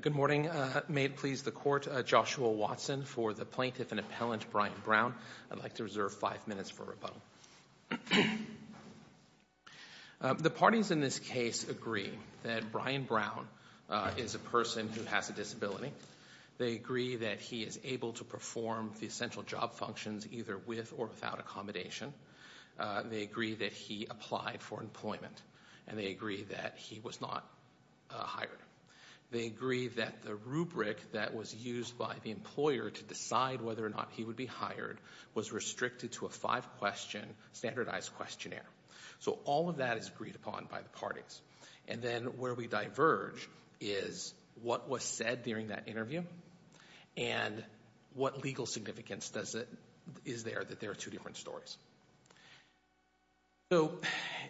Good morning. May it please the court, Joshua Watson for the plaintiff and appellant Brian Brown. I'd like to reserve five minutes for rebuttal. The parties in this case agree that Brian Brown is a person who has a disability. They agree that he is able to perform the essential job functions either with or without accommodation. They agree that he applied for employment and they agree that he was not hired. They agree that the rubric that was used by the employer to decide whether or not he would be hired was restricted to a five question standardized questionnaire. So all of that is agreed upon by the parties and then where we diverge is what was said during that interview and what legal significance does it is there that there are two different stories. So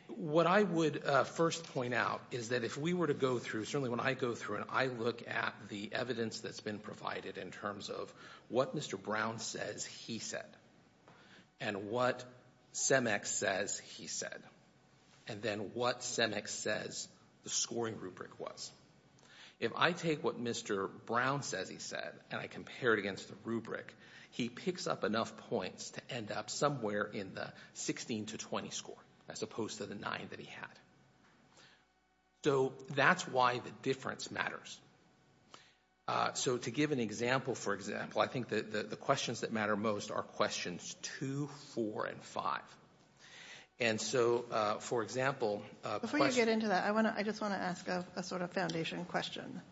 what I would first point out is that if we were to go through certainly when I go through and I look at the evidence that's been provided in terms of what Mr. Brown says he said and what Cemex says he said and then what Cemex says the scoring rubric was. If I take what Mr. Brown says he said and I compare it against the rubric he picks up enough points to end up somewhere in the 16 to 20 score as opposed to the nine that he had. So that's why the difference matters. So to give an example for example I think that the questions that matter most are questions 2, 4, and 5. And so for example... Before you get into that I want to I just want to ask a sort of foundation question.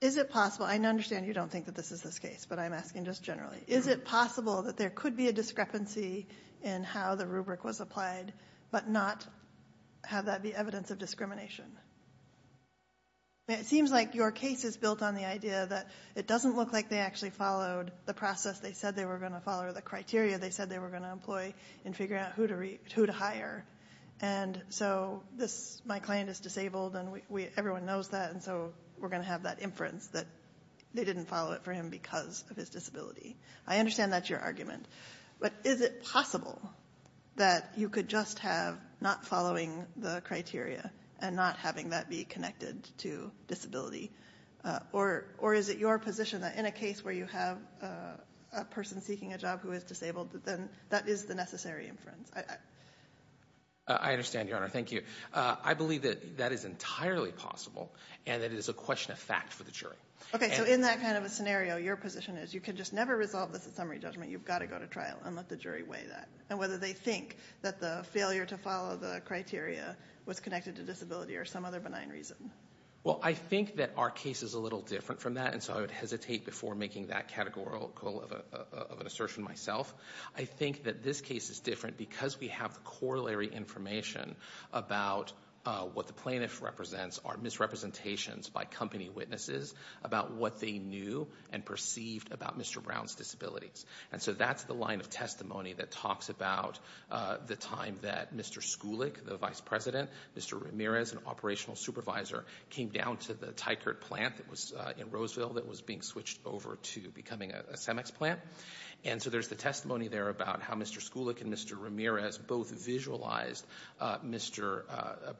Is it possible I understand you don't think that this is this case but I'm asking just generally is it possible that there could be a discrepancy in how the rubric was applied but not have that be evidence of discrimination? It seems like your case is built on the idea that it doesn't look like they actually followed the process they said they were going to follow the criteria they said they were going to employ in figuring out who to hire. And so this my client is disabled and we everyone knows that and so we're going to have that inference that they didn't follow it for him because of his disability. I understand that's your argument but is it possible that you could just have not following the criteria and not having that be connected to disability? Or is it your position that in a case where you have a person seeking a job who is disabled that then that is the necessary inference? I understand your honor. Thank you. I believe that that is entirely possible and that is a question of fact for the jury. Okay so in that kind of a scenario your position is you can just never resolve this at summary judgment you've got to go to trial and let the jury weigh that and whether they think that the failure to follow the criteria was connected to disability or some other benign reason. Well I think that our case is a little different from that and so I would hesitate before making that categorical of an assertion myself. I think that this case is different because we have the corollary information about what the plaintiff represents are misrepresentations by company witnesses about what they knew and perceived about Mr. Brown's disabilities. And so that's the line of testimony that talks about the time that Mr. Skulik, the vice president, Mr. Ramirez, an operational supervisor, came down to the Tykert plant that was in Roseville that was being switched over to becoming a Cemex plant. And so there's the testimony there about how Mr. Skulik and Mr. Ramirez both visualized Mr.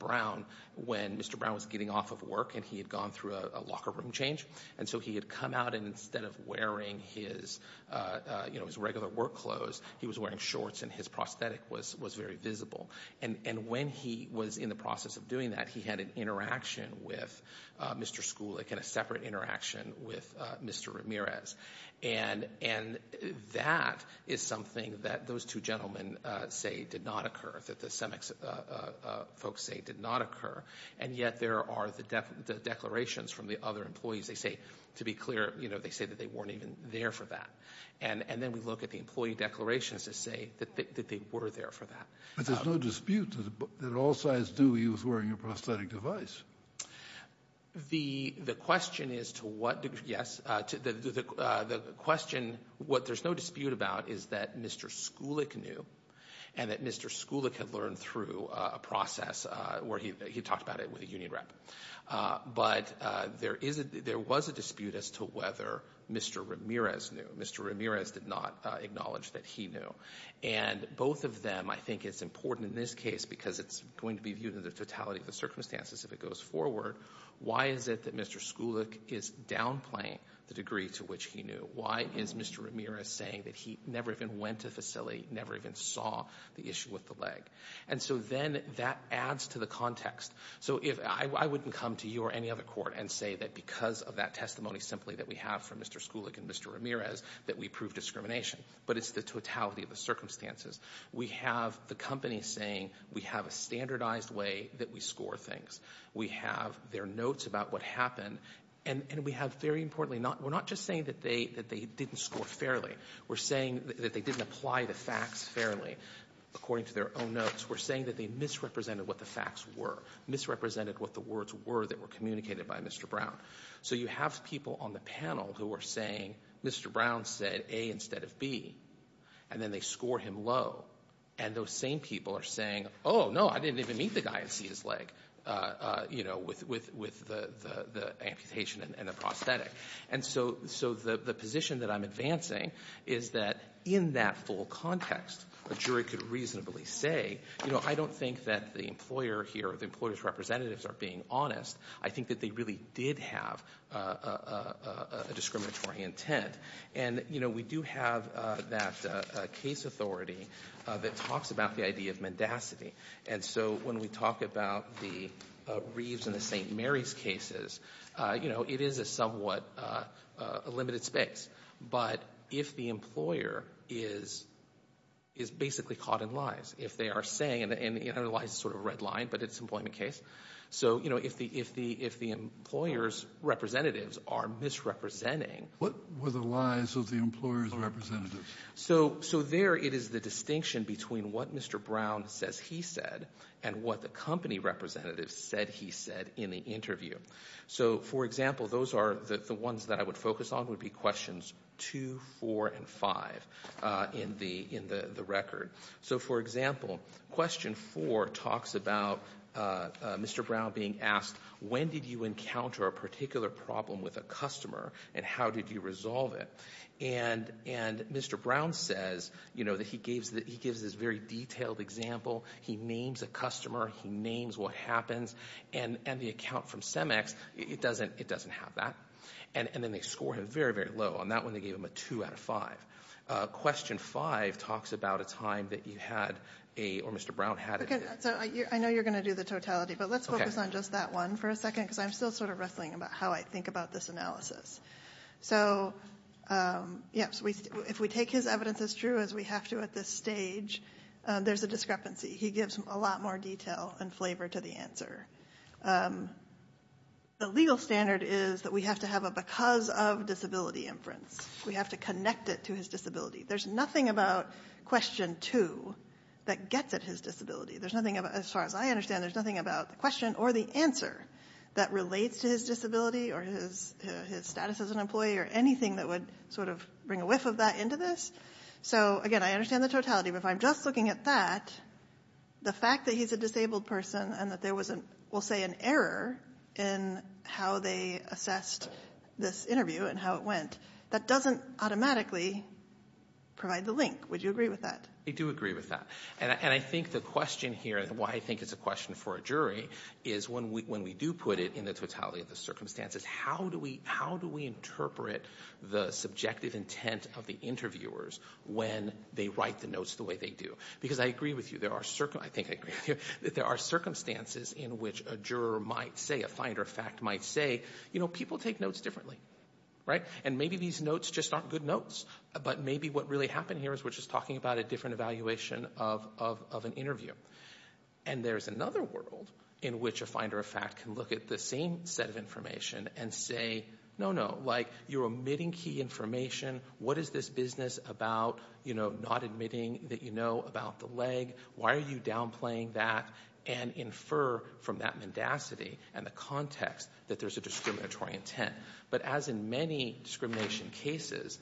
Brown when Mr. Brown was getting off of work and he had gone through a locker room change and so he had come out and instead of wearing his you know his regular work clothes he was wearing shorts and his prosthetic was was very visible and and when he was in the process of doing that he had an interaction with Mr. Skulik and a separate interaction with Mr. Ramirez and and that is something that those two gentlemen say did not occur that the Cemex folks say did not occur and yet there are the declarations from the other employees they say to be clear you know they say that they weren't even there for that and and then we look at the employee declarations to say that they were there for that. But there's no dispute that at all size do he was wearing a prosthetic device. The the question is to what degree yes to the question what there's no dispute about is that Mr. Skulik knew and that Mr. Skulik had learned through a process where he talked about it with a union rep but there is a there was a dispute as to whether Mr. Ramirez knew. Mr. Ramirez did not acknowledge that he knew and both of them I think it's important in this case because it's going to be viewed in the totality of the circumstances if it goes forward why is it that Mr. Skulik is downplaying the degree to which he knew why is Mr. Ramirez saying that he never even went to facility never even saw the issue with the leg and so then that adds to the context so if I wouldn't come to you or any other court and say that because of that testimony simply that we have from Mr. Skulik and Mr. Ramirez that we prove discrimination but it's the totality of the circumstances we have the company saying we have a standardized way that we score things we have their notes about what happened and and we have very importantly not we're not just saying that they that they didn't score fairly we're saying that they didn't apply the facts fairly according to their own notes we're saying that they misrepresented what the facts were misrepresented what the words were that were communicated by Mr. Brown so you have people on the panel who are saying Mr. Brown said a instead of B and then they score him low and those same people are saying oh no I didn't even meet the guy and see his leg you know with with with the the amputation and the and so so the the position that I'm advancing is that in that full context a jury could reasonably say you know I don't think that the employer here the employers representatives are being honest I think that they really did have a discriminatory intent and you know we do have that case authority that talks about the idea of mendacity and so when we talk about the Reeves and the st. Mary's cases you know it is a somewhat a limited space but if the employer is is basically caught in lies if they are saying and the analyze sort of red line but it's employment case so you know if the if the if the employers representatives are misrepresenting what were the lies of the employers representatives so so there it is the distinction between what mr. Brown says he said and what the company representatives said he said in the interview so for example those are the ones that I would focus on would be questions 2 4 & 5 in the in the record so for example question 4 talks about mr. Brown being asked when did you encounter a particular problem with a customer and how did you resolve it and and mr. Brown says you know that he that he gives this very detailed example he names a customer he names what happens and and the account from CEMEX it doesn't it doesn't have that and and then they score him very very low on that one they gave him a 2 out of 5 question 5 talks about a time that you had a or mr. Brown had it I know you're gonna do the totality but let's focus on just that one for a second because I'm still sort of wrestling about how I think about this analysis so yes we if we take his evidence as true as we have to at this stage there's a discrepancy he gives a lot more detail and flavor to the answer the legal standard is that we have to have a because of disability inference we have to connect it to his disability there's nothing about question 2 that gets at his disability there's nothing about as far as I understand there's nothing about the question or the answer that relates to his disability or his his status as an employee or anything that would sort of bring a whiff of that into this so again I understand the totality but if I'm just looking at that the fact that he's a disabled person and that there wasn't we'll say an error in how they assessed this interview and how it went that doesn't automatically provide the link would you agree with that I do agree with that and I think the question here and why I think it's a question for a jury is when we when we do put it in the totality of the circumstances how do we how do we interpret the subjective intent of the interviewers when they write the notes the way they do because I agree with you there are certain I think that there are circumstances in which a juror might say a finder of fact might say you know people take notes differently right and maybe these notes just aren't good notes but maybe what really happened here is which is talking about a different evaluation of an interview and there's another world in which a finder of fact can look at the same set of information and say no no like you're omitting key information what is this business about you know not admitting that you know about the leg why are you downplaying that and infer from that mendacity and the context that there's a discriminatory intent but as in many discrimination cases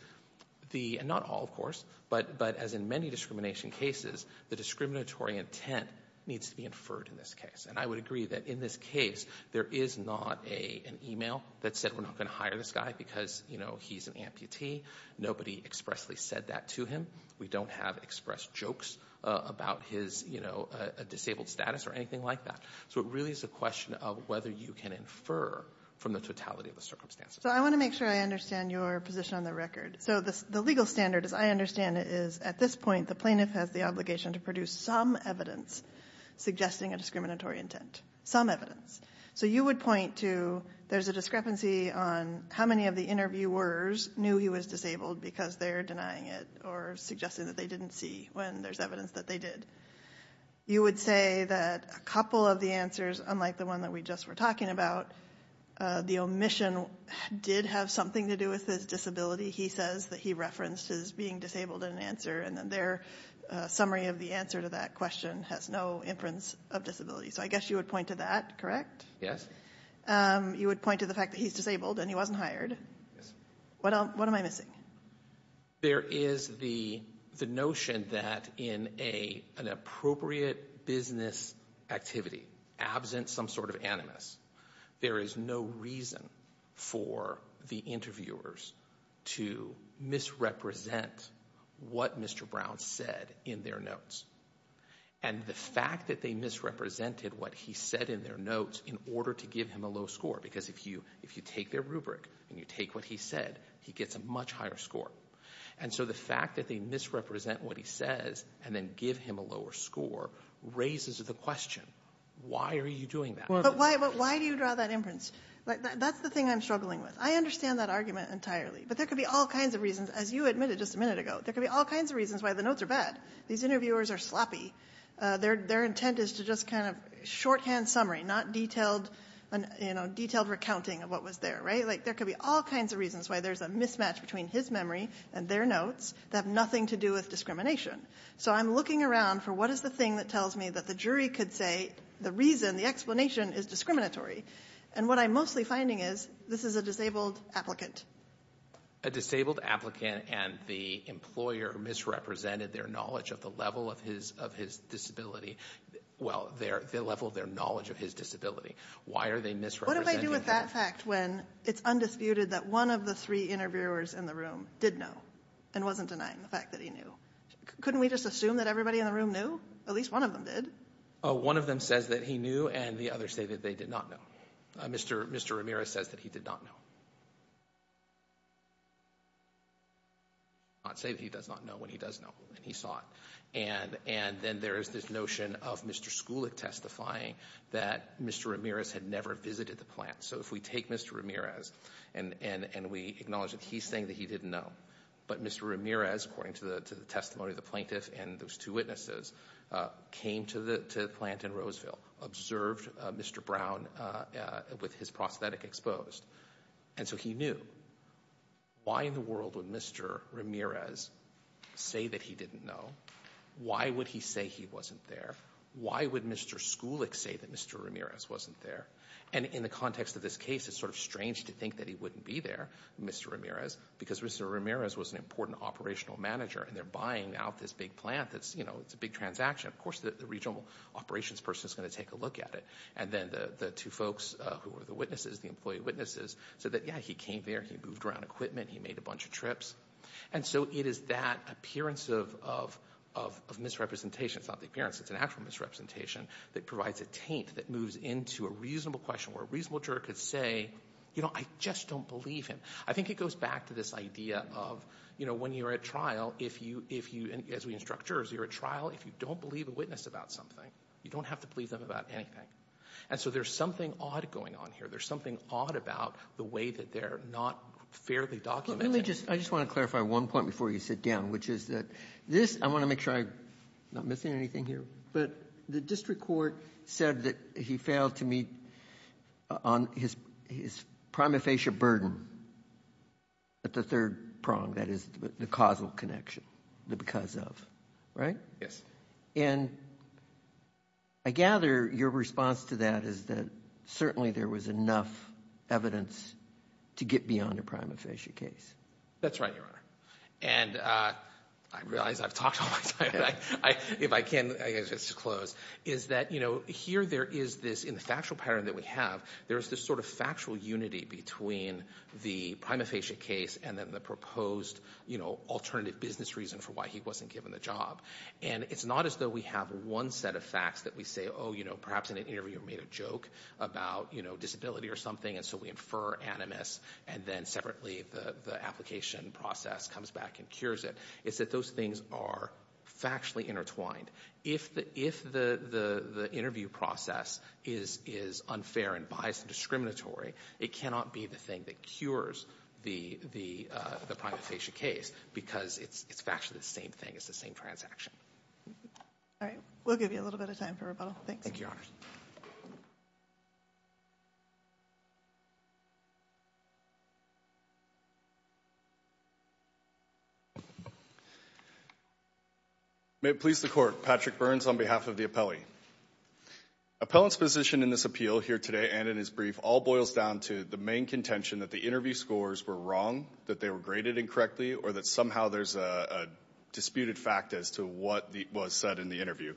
the and not all of course but but as in many discrimination cases the discriminatory intent needs to be inferred in this case and I would agree that in this case there is not a an email that said we're not going to hire this guy because you know he's an amputee nobody expressly said that to him we don't have express jokes about his you know a disabled status or anything like that so it really is a question of whether you can infer from the totality of the circumstances so I want to make sure I understand your position on the record so this the legal standard as I understand it is at this point the plaintiff has the obligation to produce some evidence suggesting a intent some evidence so you would point to there's a discrepancy on how many of the interviewers knew he was disabled because they're denying it or suggesting that they didn't see when there's evidence that they did you would say that a couple of the answers unlike the one that we just were talking about the omission did have something to do with his disability he says that he referenced as being disabled in an answer and then their summary of the answer to that question has no inference of disability so I guess you would point to that correct yes you would point to the fact that he's disabled and he wasn't hired what else what am I missing there is the the notion that in a an appropriate business activity absent some sort of animus there is no reason for the interviewers to misrepresent what mr. Brown said in their notes and the fact that they misrepresented what he said in their notes in order to give him a low score because if you if you take their rubric and you take what he said he gets a much higher score and so the fact that they misrepresent what he says and then give him a lower score raises the question why are you doing that but why but why do you draw that inference that's the thing I'm struggling with I understand that argument entirely but there could be all kinds of reasons as you admitted just a minute ago there could be all kinds of reasons why the notes are bad these interviewers are sloppy their their intent is to just kind of shorthand summary not detailed and you know detailed recounting of what was there right like there could be all kinds of reasons why there's a mismatch between his memory and their notes that have nothing to do with discrimination so I'm looking around for what is the thing that tells me that the jury could say the reason the explanation is discriminatory and what I'm mostly finding is this is a disabled applicant a disabled applicant and the employer misrepresented their knowledge of the level of his of his disability well they're the level their knowledge of his disability why are they misrepresented with that fact when it's undisputed that one of the three interviewers in the room did know and wasn't denying the fact that he knew couldn't we just assume that everybody in the room knew at least one of them did one of them says that he knew and the others say they did not know mr. mr. Ramirez says that he did not know I'd say that he does not know when he does know and he saw it and and then there is this notion of mr. schulich testifying that mr. Ramirez had never visited the plant so if we take mr. Ramirez and and and we acknowledge that he's saying that he didn't know but mr. Ramirez according to the testimony of the plaintiffs and those two witnesses came to the plant in Roseville observed mr. Brown with his prosthetic exposed and so he knew why in the world would mr. Ramirez say that he didn't know why would he say he wasn't there why would mr. schulich say that mr. Ramirez wasn't there and in the context of this case it's sort of strange to think that he wouldn't be there mr. Ramirez because mr. Ramirez was an important operational manager and they're buying out this big plant that's you know it's a big transaction of course the regional operations person is going to take a look at it and then the two folks who were the witnesses the employee witnesses so that yeah he came there he moved around equipment he made a bunch of trips and so it is that appearance of misrepresentation it's not the appearance it's an actual misrepresentation that provides a taint that moves into a reasonable question where a reasonable juror could say you know I just don't believe him I think it goes back to this idea of you know when you're at trial if you if you and as we instructors you're a trial if you don't believe a witness about something you don't have to believe them about anything and so there's something odd going on here there's something odd about the way that they're not fairly documented just I just want to clarify one point before you sit down which is that this I want to make sure I'm not missing anything here but the district court said that he failed to meet on his his prima facie burden at the third prong that is the causal connection the because of right yes and I gather your response to that is that certainly there was enough evidence to get beyond a prima facie case that's right your honor and I realize I've talked if I can just close is that you know here there is this in the factual pattern that we have there's this sort of factual unity between the prima facie case and then the proposed you know alternative business reason for why he wasn't given the job and it's not as though we have one set of facts that we say oh you know perhaps in an interview made a joke about you know disability or something and so we infer animus and then separately the the application process comes back and cures it it's that those things are factually intertwined if the if the the interview process is is unfair and bias and discriminatory it cannot be the thing that cures the the the prima facie case because it's it's actually the same thing it's the same transaction all right we'll give you a little bit of time for rebuttal thanks thank your may it please the court Patrick Burns on behalf of the appellee appellant's position in this appeal here today and in his brief all boils down to the main contention that the interview scores were wrong that they were graded incorrectly or that somehow there's a disputed fact as to what the was said in the interview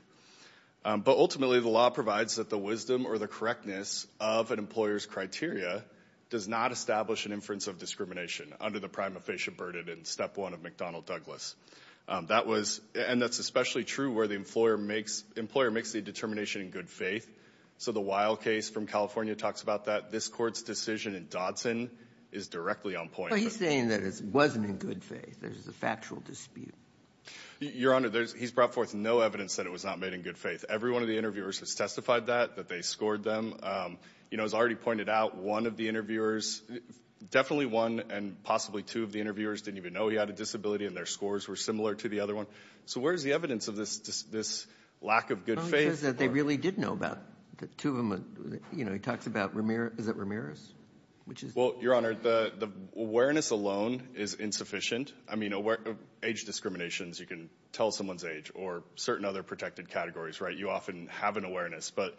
but ultimately the law provides that the wisdom or the correctness of an employer's criteria does not establish an inference of discrimination under the prima facie burden and step one of McDonnell Douglas that was and that's especially true where the employer makes employer makes the determination in good faith so the wild case from California talks about that this court's decision in Dodson is directly on point saying that it wasn't in good faith there's a factual dispute your honor there's he's brought forth no evidence that it was not made in good faith every one of the interviewers has testified that that they scored them you know has already pointed out one of the interviewers definitely one and possibly two of the interviewers didn't even know he had a disability and their scores were similar to the other one so where's the evidence of this this lack of good faith that they really did know about the two of them you know he talks about Ramir is that Ramirez which is well your honor the awareness alone is insufficient I mean aware age discriminations you can tell someone's age or certain other protected categories right you often have an awareness but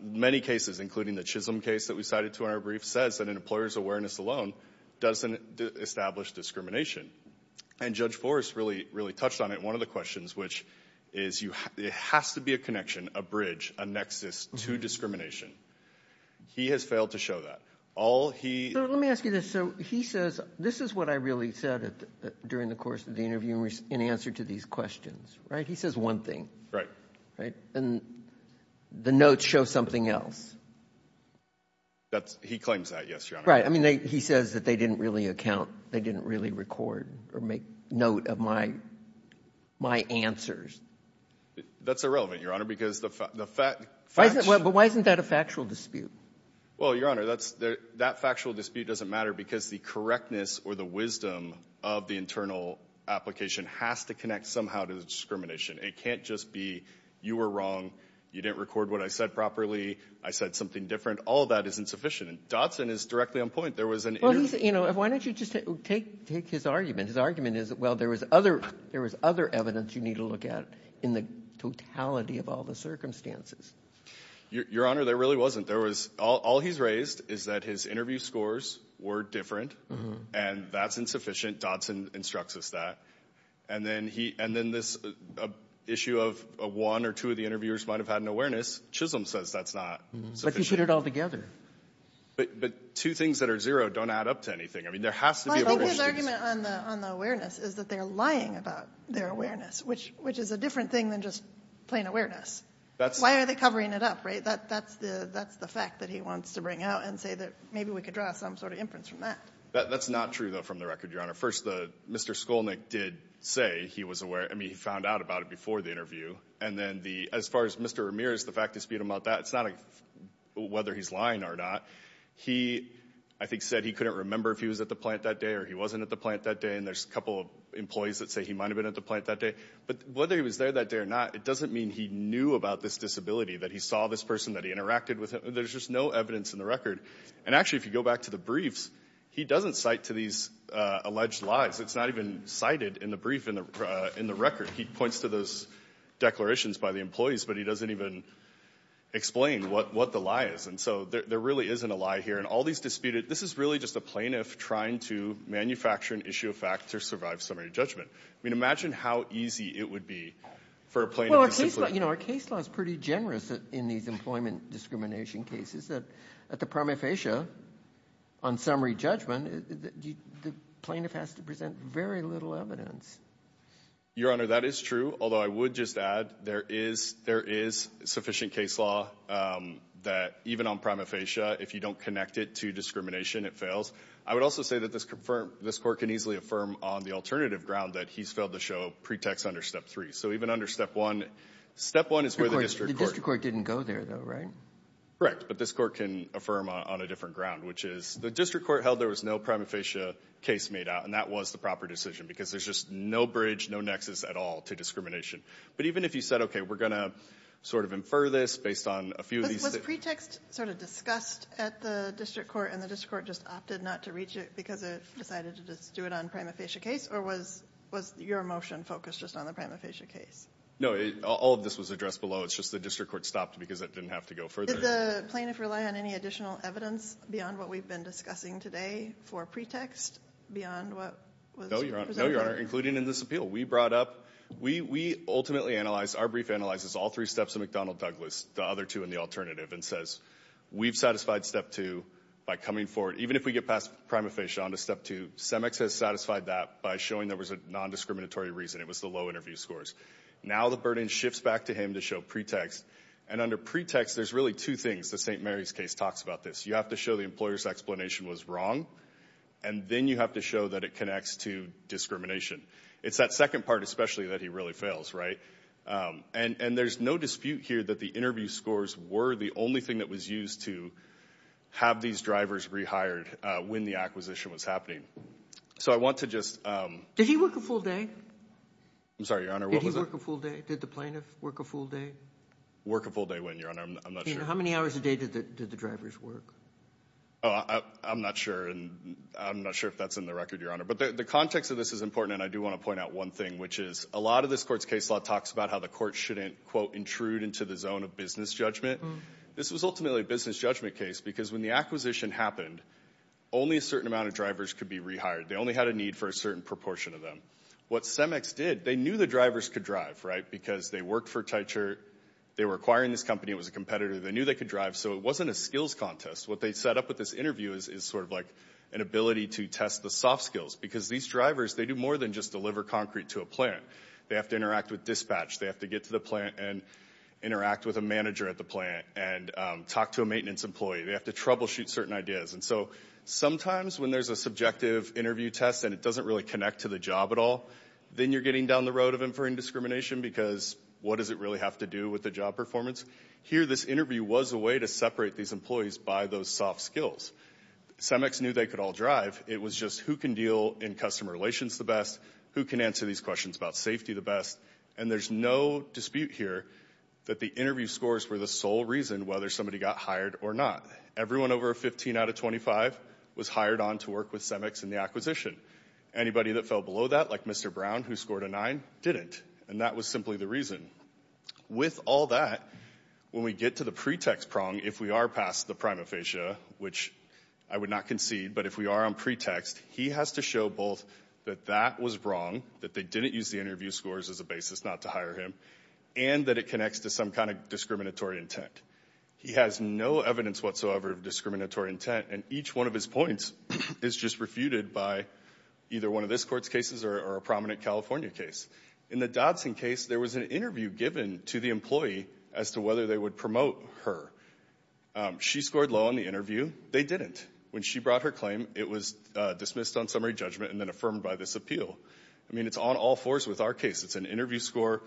many cases including the Chisholm case that we cited to our brief says that an employer's awareness alone doesn't establish discrimination and judge Forrest really really touched on it one of the questions which is you have it has to be a connection a bridge a nexus to discrimination he has failed to show that all he let me ask you this so he says this is what I really said it during the course of the interviewers in answer to these questions right he says one thing right right and the notes show something else that's he claims that yes right I mean they he says that they didn't really account they didn't really record or make note of my my answers that's irrelevant your honor because the fact but why isn't that a factual dispute well your honor that's that factual dispute doesn't matter because the correctness or the wisdom of the internal application has to connect somehow to the discrimination it can't just be you were wrong you didn't record what I said properly I said something different all that isn't sufficient and Dotson is directly on point there was an you know why don't you just take take his argument his argument is well there was other there was other evidence you need to look at in the totality of all the circumstances your honor there really wasn't there was all he's raised is that his interview scores were different and that's insufficient Dotson instructs us that and then he and then this issue of a one or two of the interviewers might have had an awareness Chisholm says that's not like you put it all together but but two things that are zero don't add up to anything I mean there has to be on the awareness is that they're lying about their awareness which which is a different thing than just plain awareness that's why are they covering it up right that that's the that's the fact that he wants to bring out and say that maybe we could draw some sort of inference from that that that's not true though from the record your honor first the mr. Skolnik did say he was aware I mean he found out about it before the interview and then the as far as mr. Ramirez the fact dispute about that it's not a whether he's lying or not he I think said he couldn't remember if he was at the plant that day or he wasn't at the plant that day and there's a couple of employees that say he might have been at the plant that day but whether he was there that day or not it doesn't mean he knew about this disability that he saw this person that he interacted with there's just no evidence in the record and actually if you go back to the briefs he doesn't cite to these alleged lies it's not even cited in the brief in the in the record he points to those declarations by the employees but he doesn't even explain what what the lie is and so there really isn't a lie here and all these disputed this is really just a plaintiff trying to manufacture an issue of fact to survive summary judgment I mean imagine how easy it would be for a plane you know our case laws pretty generous in these employment discrimination cases that at the prima facie on summary judgment the plaintiff has to present very little evidence your honor that is true although I would just add there is there is sufficient case law that even on prima facie if you don't connect it to discrimination it fails I would also say that this confirmed this court can easily affirm on the alternative ground that he's failed to show pretext under step three so even under step one step one is where the district court didn't go there though right correct but this court can affirm on a different ground which is the district court held there was no prima facie case made out and that was the proper decision because there's just no bridge no nexus at all to discrimination but even if you said okay we're gonna sort of infer this based on a few of these pretext sort of discussed at the district court and the district court just opted not to reach it because I decided to just do it on prima facie case or was was your motion focused just on the prima facie case no all of this was addressed below it's just the district court stopped because it didn't have to go for the plaintiff rely on any additional evidence beyond what we've been discussing today for pretext beyond what no you're not including in this appeal we brought up we we ultimately analyzed our brief analyzes all three steps of McDonnell Douglas the other two in the alternative and says we've satisfied step two by coming forward even if we get past prima facie on to step to semex has satisfied that by showing there was a non-discriminatory reason it was the low interview scores now the burden shifts back to him to show pretext and under pretext there's really two things the st. Mary's case talks about this you have to show the employers explanation was wrong and then you have to show that it connects to discrimination it's that second part especially that he really fails right and and there's no dispute here that the interview scores were the only thing that was used to have these drivers rehired when the acquisition was happening so I want to just did he work a full day I'm sorry your honor what was a full day did the plaintiff work a full day work a full day when your honor I'm not sure how many hours a day to the drivers work I'm not sure and I'm not sure if that's in the record your honor but the context of this is important and I do want to point out one thing which is a lot of this courts case law talks about how the court shouldn't quote intrude into the zone of business judgment this was ultimately business judgment case because when the acquisition happened only a certain amount of drivers could be rehired they only had a need for a certain proportion of them what CEMEX did they knew the drivers could drive right because they worked for tight shirt they were acquiring this company it was a competitor they knew they could drive so it wasn't a skills contest what they set up with this interview is is sort of like an ability to test the soft skills because these drivers they do more than just deliver concrete to a plant they have to interact with dispatch they have to get to the plant and interact with a manager at the plant and talk to a maintenance employee they have to troubleshoot certain ideas and so sometimes when there's a subjective interview test and it doesn't really connect to the job at all then you're getting down the road of inferring discrimination because what does it really have to do with the job performance here this interview was a way to separate these employees by those soft skills CEMEX knew they could all drive it was just who can deal in customer relations the best who can answer these questions about safety the best and there's no dispute here that the interview scores were the sole reason whether somebody got hired or not everyone over a 15 out of 25 was hired on to work with CEMEX in the acquisition anybody that fell below that like mr. Brown who scored a 9 didn't and that was simply the reason with all that when we get to the pretext prong if we are past the prima facie which I would not concede but if we are on pretext he has to show both that that was wrong that they didn't use the interview scores as a basis not to hire him and that it connects to some kind of discriminatory intent he has no evidence whatsoever of discriminatory intent and each one of his points is just refuted by either one of this courts cases or a prominent California case in the Dodson case there was an interview given to the employee as to whether they would promote her she scored low on the interview they didn't when she brought her claim it was dismissed on summary judgment and then affirmed by this appeal I mean it's on all fours with our case it's an interview score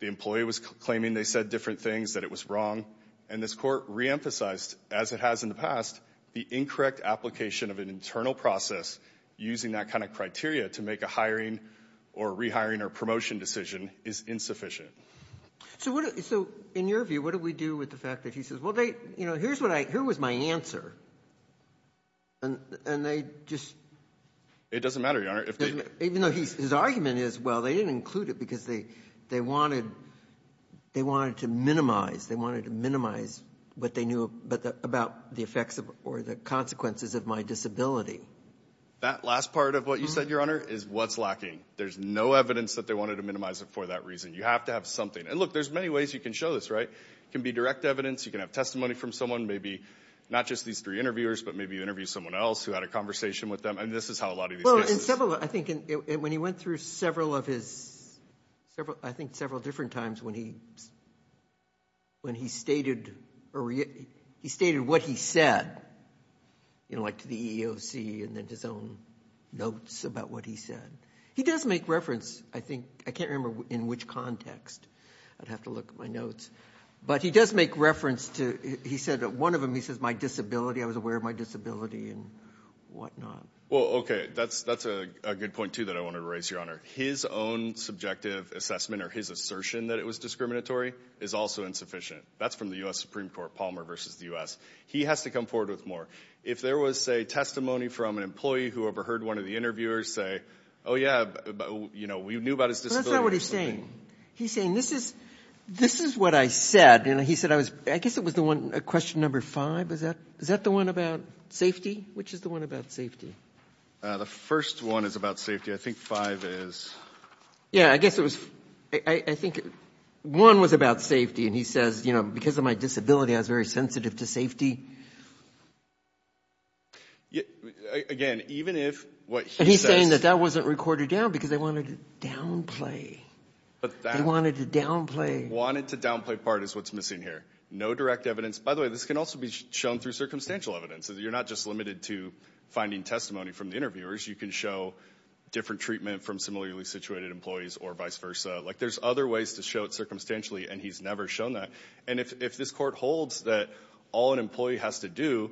the employee was claiming they said different things that it was wrong and this court re-emphasized as it has in the past the incorrect application of an internal process using that kind of criteria to make a hiring or rehiring or promotion decision is insufficient so what so in your view what do we do with the fact that he says well they you know here's what I here was my answer and and they just it doesn't matter even though he's his argument is well they didn't include it because they they wanted they wanted to minimize they wanted to minimize what they knew but about the effects of or the consequences of my disability that last part of what you said your honor is what's lacking there's no evidence that they wanted to minimize it for that reason you have to have something and look there's many ways you can show this right can be direct evidence you can have testimony from someone maybe not just these three interviewers but maybe you interview someone else who had a conversation with them and this is how a lot of these several I think and when he went through several of his several I think several different times when he when he stated or he stated what he said you know like to the EEOC and then his own notes about what he said he does make reference I think I can't remember in which context I'd have to look at my but he does make reference to he said that one of them he says my disability I was aware of my disability and whatnot well okay that's that's a good point too that I wanted to raise your honor his own subjective assessment or his assertion that it was discriminatory is also insufficient that's from the US Supreme Court Palmer versus the US he has to come forward with more if there was a testimony from an employee who overheard one of the interviewers say oh yeah you know we knew about his disability saying he's saying this is this is what I said you know he said I was I guess it was the one a question number five is that is that the one about safety which is the one about safety the first one is about safety I think five is yeah I guess it was I think one was about safety and he says you know because of my disability I was very sensitive to safety again even if what he's saying that that wasn't recorded down because they wanted to downplay but they wanted to downplay wanted to downplay part is what's missing here no direct evidence by the way this can also be shown through circumstantial evidence so you're not just limited to finding testimony from the interviewers you can show different treatment from similarly situated employees or vice versa like there's other ways to show it circumstantially and he's never shown that and if this court holds that all an employee has to do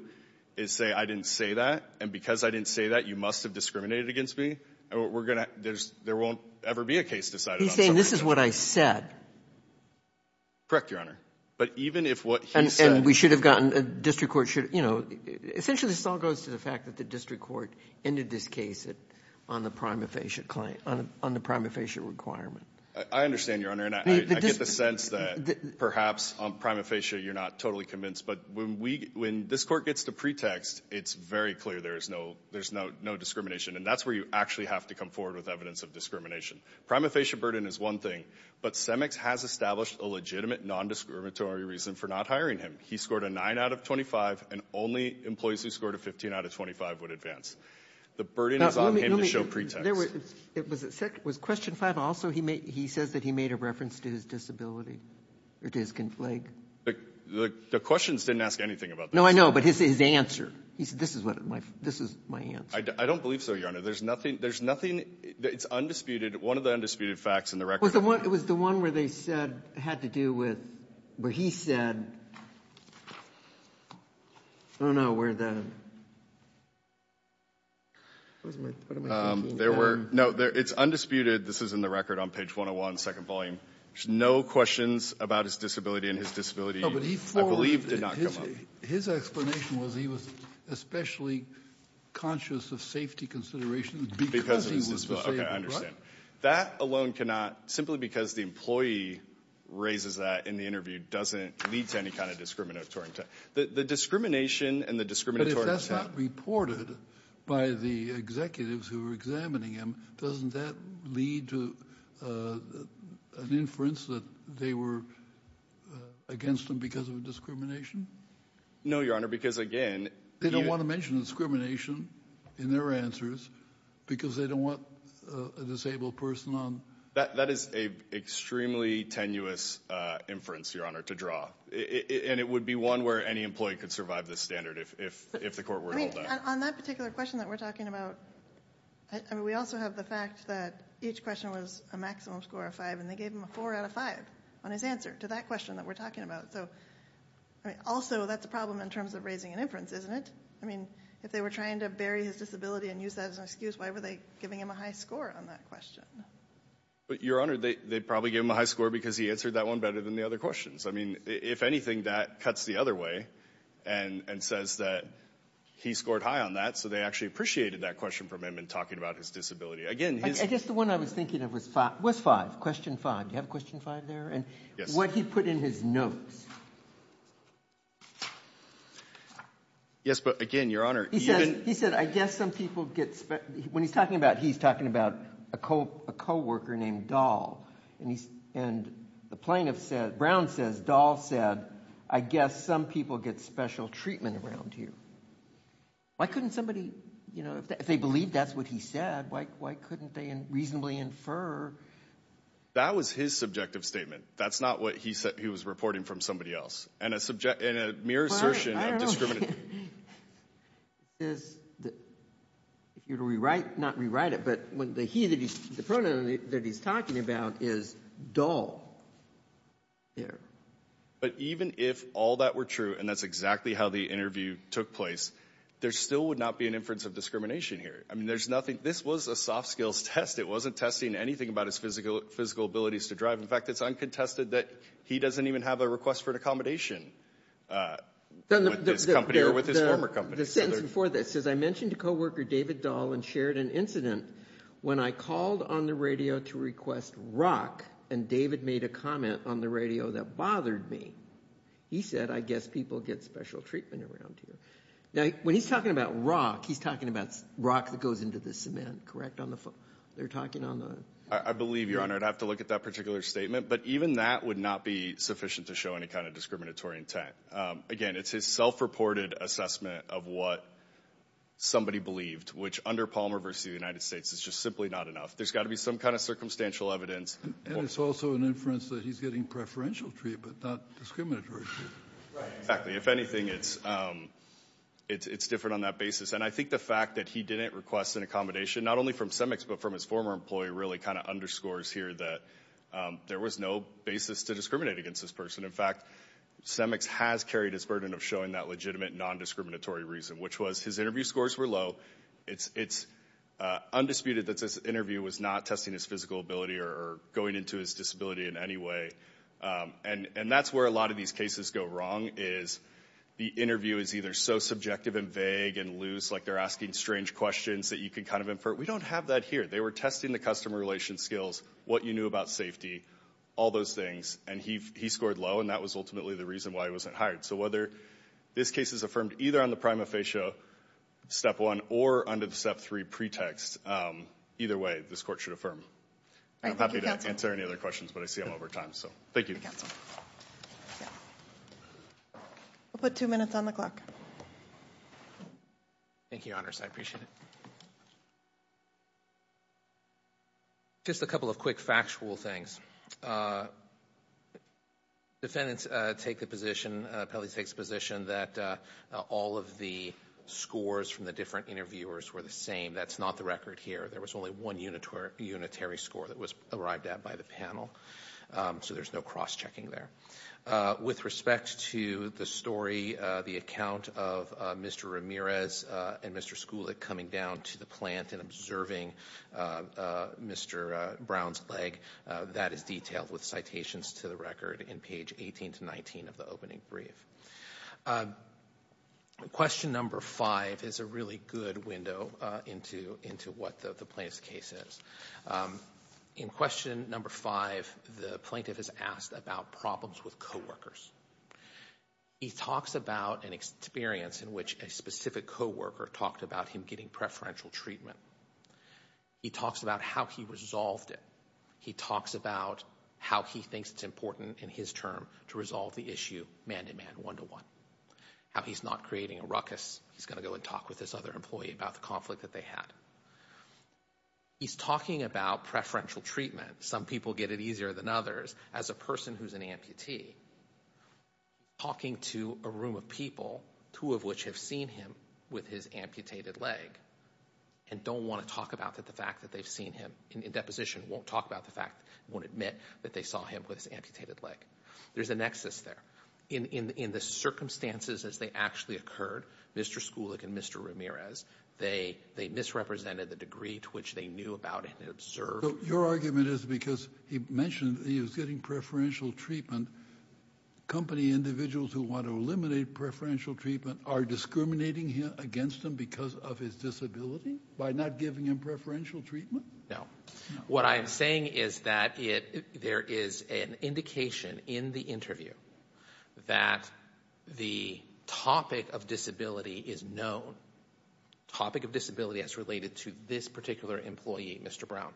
is say I didn't say that and because I didn't say that you must have discriminated against me and what we're gonna there's there won't ever be a case decided saying this is what I said correct your honor but even if what and we should have gotten a district court should you know essentially this all goes to the fact that the district court ended this case it on the prima facie claim on the prima facie requirement I understand your honor and I get the sense that perhaps on prima facie you're not totally convinced but when we when this court gets to pretext it's very clear there is no there's no no discrimination and that's where you actually have to come forward with evidence of discrimination prima facie burden is one thing but CEMEX has established a legitimate non discriminatory reason for not hiring him he scored a 9 out of 25 and only employees who scored a 15 out of 25 would advance the burden is on him to show pretext it was a second was question 5 also he made he says that he made a reference to his disability it is conflict the questions didn't ask anything about no I know but his answer he said this is what my this is my hand I don't believe so your honor there's nothing there's nothing it's undisputed one of the undisputed facts in the record what it was the one where they said had to do with where he said I don't know where the there were no there it's undisputed this is in the record on page 101 second volume no questions about his disability and his disability his explanation was he was especially conscious of safety consideration because that alone cannot simply because the employee raises that in the interview doesn't lead to any kind of discriminatory the discrimination and the discriminatory reported by the executives who were examining him doesn't that lead to an inference that they were against them because of discrimination no your honor because again they don't want to mention discrimination in their answers because they don't want a disabled person on that that is a extremely tenuous inference your honor to draw it would be one where any employee could survive this standard if if the court were on that particular question that we're talking about and we also have the fact that each question was a maximum score of five and they gave him a four out of five on his answer to that question that we're talking about so I mean also that's a problem in terms of raising an inference isn't it I mean if they were trying to bury his disability and use that as an excuse why were they giving him a high score on that question but your honor they probably give him a high score because he answered that one better than the other questions I mean if anything that cuts the other way and and says that he scored high on that so they actually appreciated that question from him and talking about his disability again he's just the one I was thinking of was five was five question five you have a question five there and what he put in his notes yes but again your honor he said he said I guess some people get spent when he's talking about he's talking about a cope a co-worker named doll and he's and the plaintiff said Brown says doll said I guess some people get special treatment around here why couldn't somebody you know if they believe that's what he said like why couldn't they and reasonably infer that was his subjective statement that's not what he said he was reporting from somebody else and a subject in a mere assertion is if you rewrite not rewrite it but when the he that he's the pronoun that he's talking about is doll yeah but even if all that were true and that's exactly how the interview took place there still would not be an inference of discrimination here I mean there's nothing this was a soft skills test it wasn't testing anything about his physical physical abilities to drive in fact it's uncontested that he doesn't even have a request for an accommodation for this as I mentioned a co-worker David doll and shared an incident when I called on the radio to request rock and David made a comment on the radio that bothered me he said I guess people get special treatment around here now when he's talking about rock he's talking about rock that goes into the cement correct on the foot they're talking on the I believe your honor I'd have to look at that particular statement but even that would not be sufficient to show any kind of discriminatory intent again it's his self-reported assessment of what somebody believed which under Palmer versus the United States is just simply not enough there's got to be some kind of circumstantial evidence and it's exactly if anything it's it's it's different on that basis and I think the fact that he didn't request an accommodation not only from CEMEX but from his former employee really kind of underscores here that there was no basis to discriminate against this person in fact CEMEX has carried his burden of showing that legitimate non-discriminatory reason which was his interview scores were low it's it's undisputed that this interview was not testing his physical ability or going into his disability in any way and and that's where a lot of these cases go wrong is the interview is either so subjective and vague and loose like they're asking strange questions that you can kind of infer we don't have that here they were testing the customer relations skills what you knew about safety all those things and he scored low and that was ultimately the reason why he wasn't hired so whether this case is affirmed either on the prima facie step 1 or under the step 3 pretext either way this court should affirm I'm happy to answer any other questions but I see I'm over time so thank you we'll put two minutes on the clock thank you honors I appreciate it just a couple of quick factual things defendants take the position Pele takes position that all of the scores from the different interviewers were the same that's not the record here there was only one unit where unitary score that was arrived at by the panel so there's no cross-checking there with respect to the story the account of mr. Ramirez and mr. school it coming down to the plant and observing mr. Brown's leg that is detailed with citations to the record in page 18 to 19 of the opening brief question number five is a really good window into into what the place cases in question number five the plaintiff is asked about problems with co-workers he talks about an experience in which a specific co-worker talked about him getting preferential treatment he talks about how he resolved it he talks about how he thinks it's important in his term to resolve the issue man-to-man one-to- one how he's not creating a ruckus he's gonna go and talk with this other employee about the conflict that they had he's talking about preferential treatment some people get it easier than others as a person who's an amputee talking to a room of people two of which have seen him with his amputated leg and don't want to talk about that the fact that they've seen him in deposition won't talk about the fact won't admit that they saw him with his amputated leg there's a nexus there in in in the circumstances as they actually occurred mr. schulich and mr. Ramirez they they misrepresented the degree to which they knew about it and observed your argument is because he mentioned he was getting preferential treatment company individuals who want to eliminate preferential treatment are discriminating here against him because by not giving him preferential treatment now what I am saying is that it there is an indication in the interview that the topic of disability is known topic of disability as related to this particular employee mr. Brown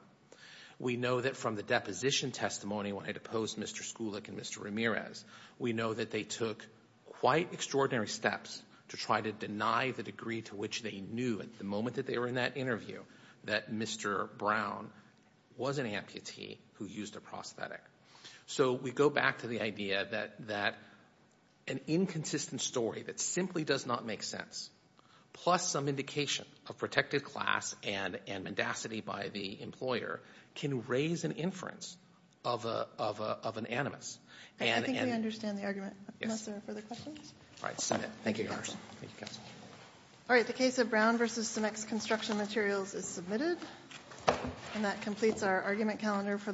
we know that from the deposition testimony when I deposed mr. schulich and mr. Ramirez we know that they took quite extraordinary steps to try to deny the degree to which they knew at the moment that they were in that interview that mr. Brown was an amputee who used a prosthetic so we go back to the idea that that an inconsistent story that simply does not make sense plus some indication of protected class and and mendacity by the employer can raise an inference of a of an animus all right the case of Brown versus the next construction materials is submitted and that completes our argument calendar for the morning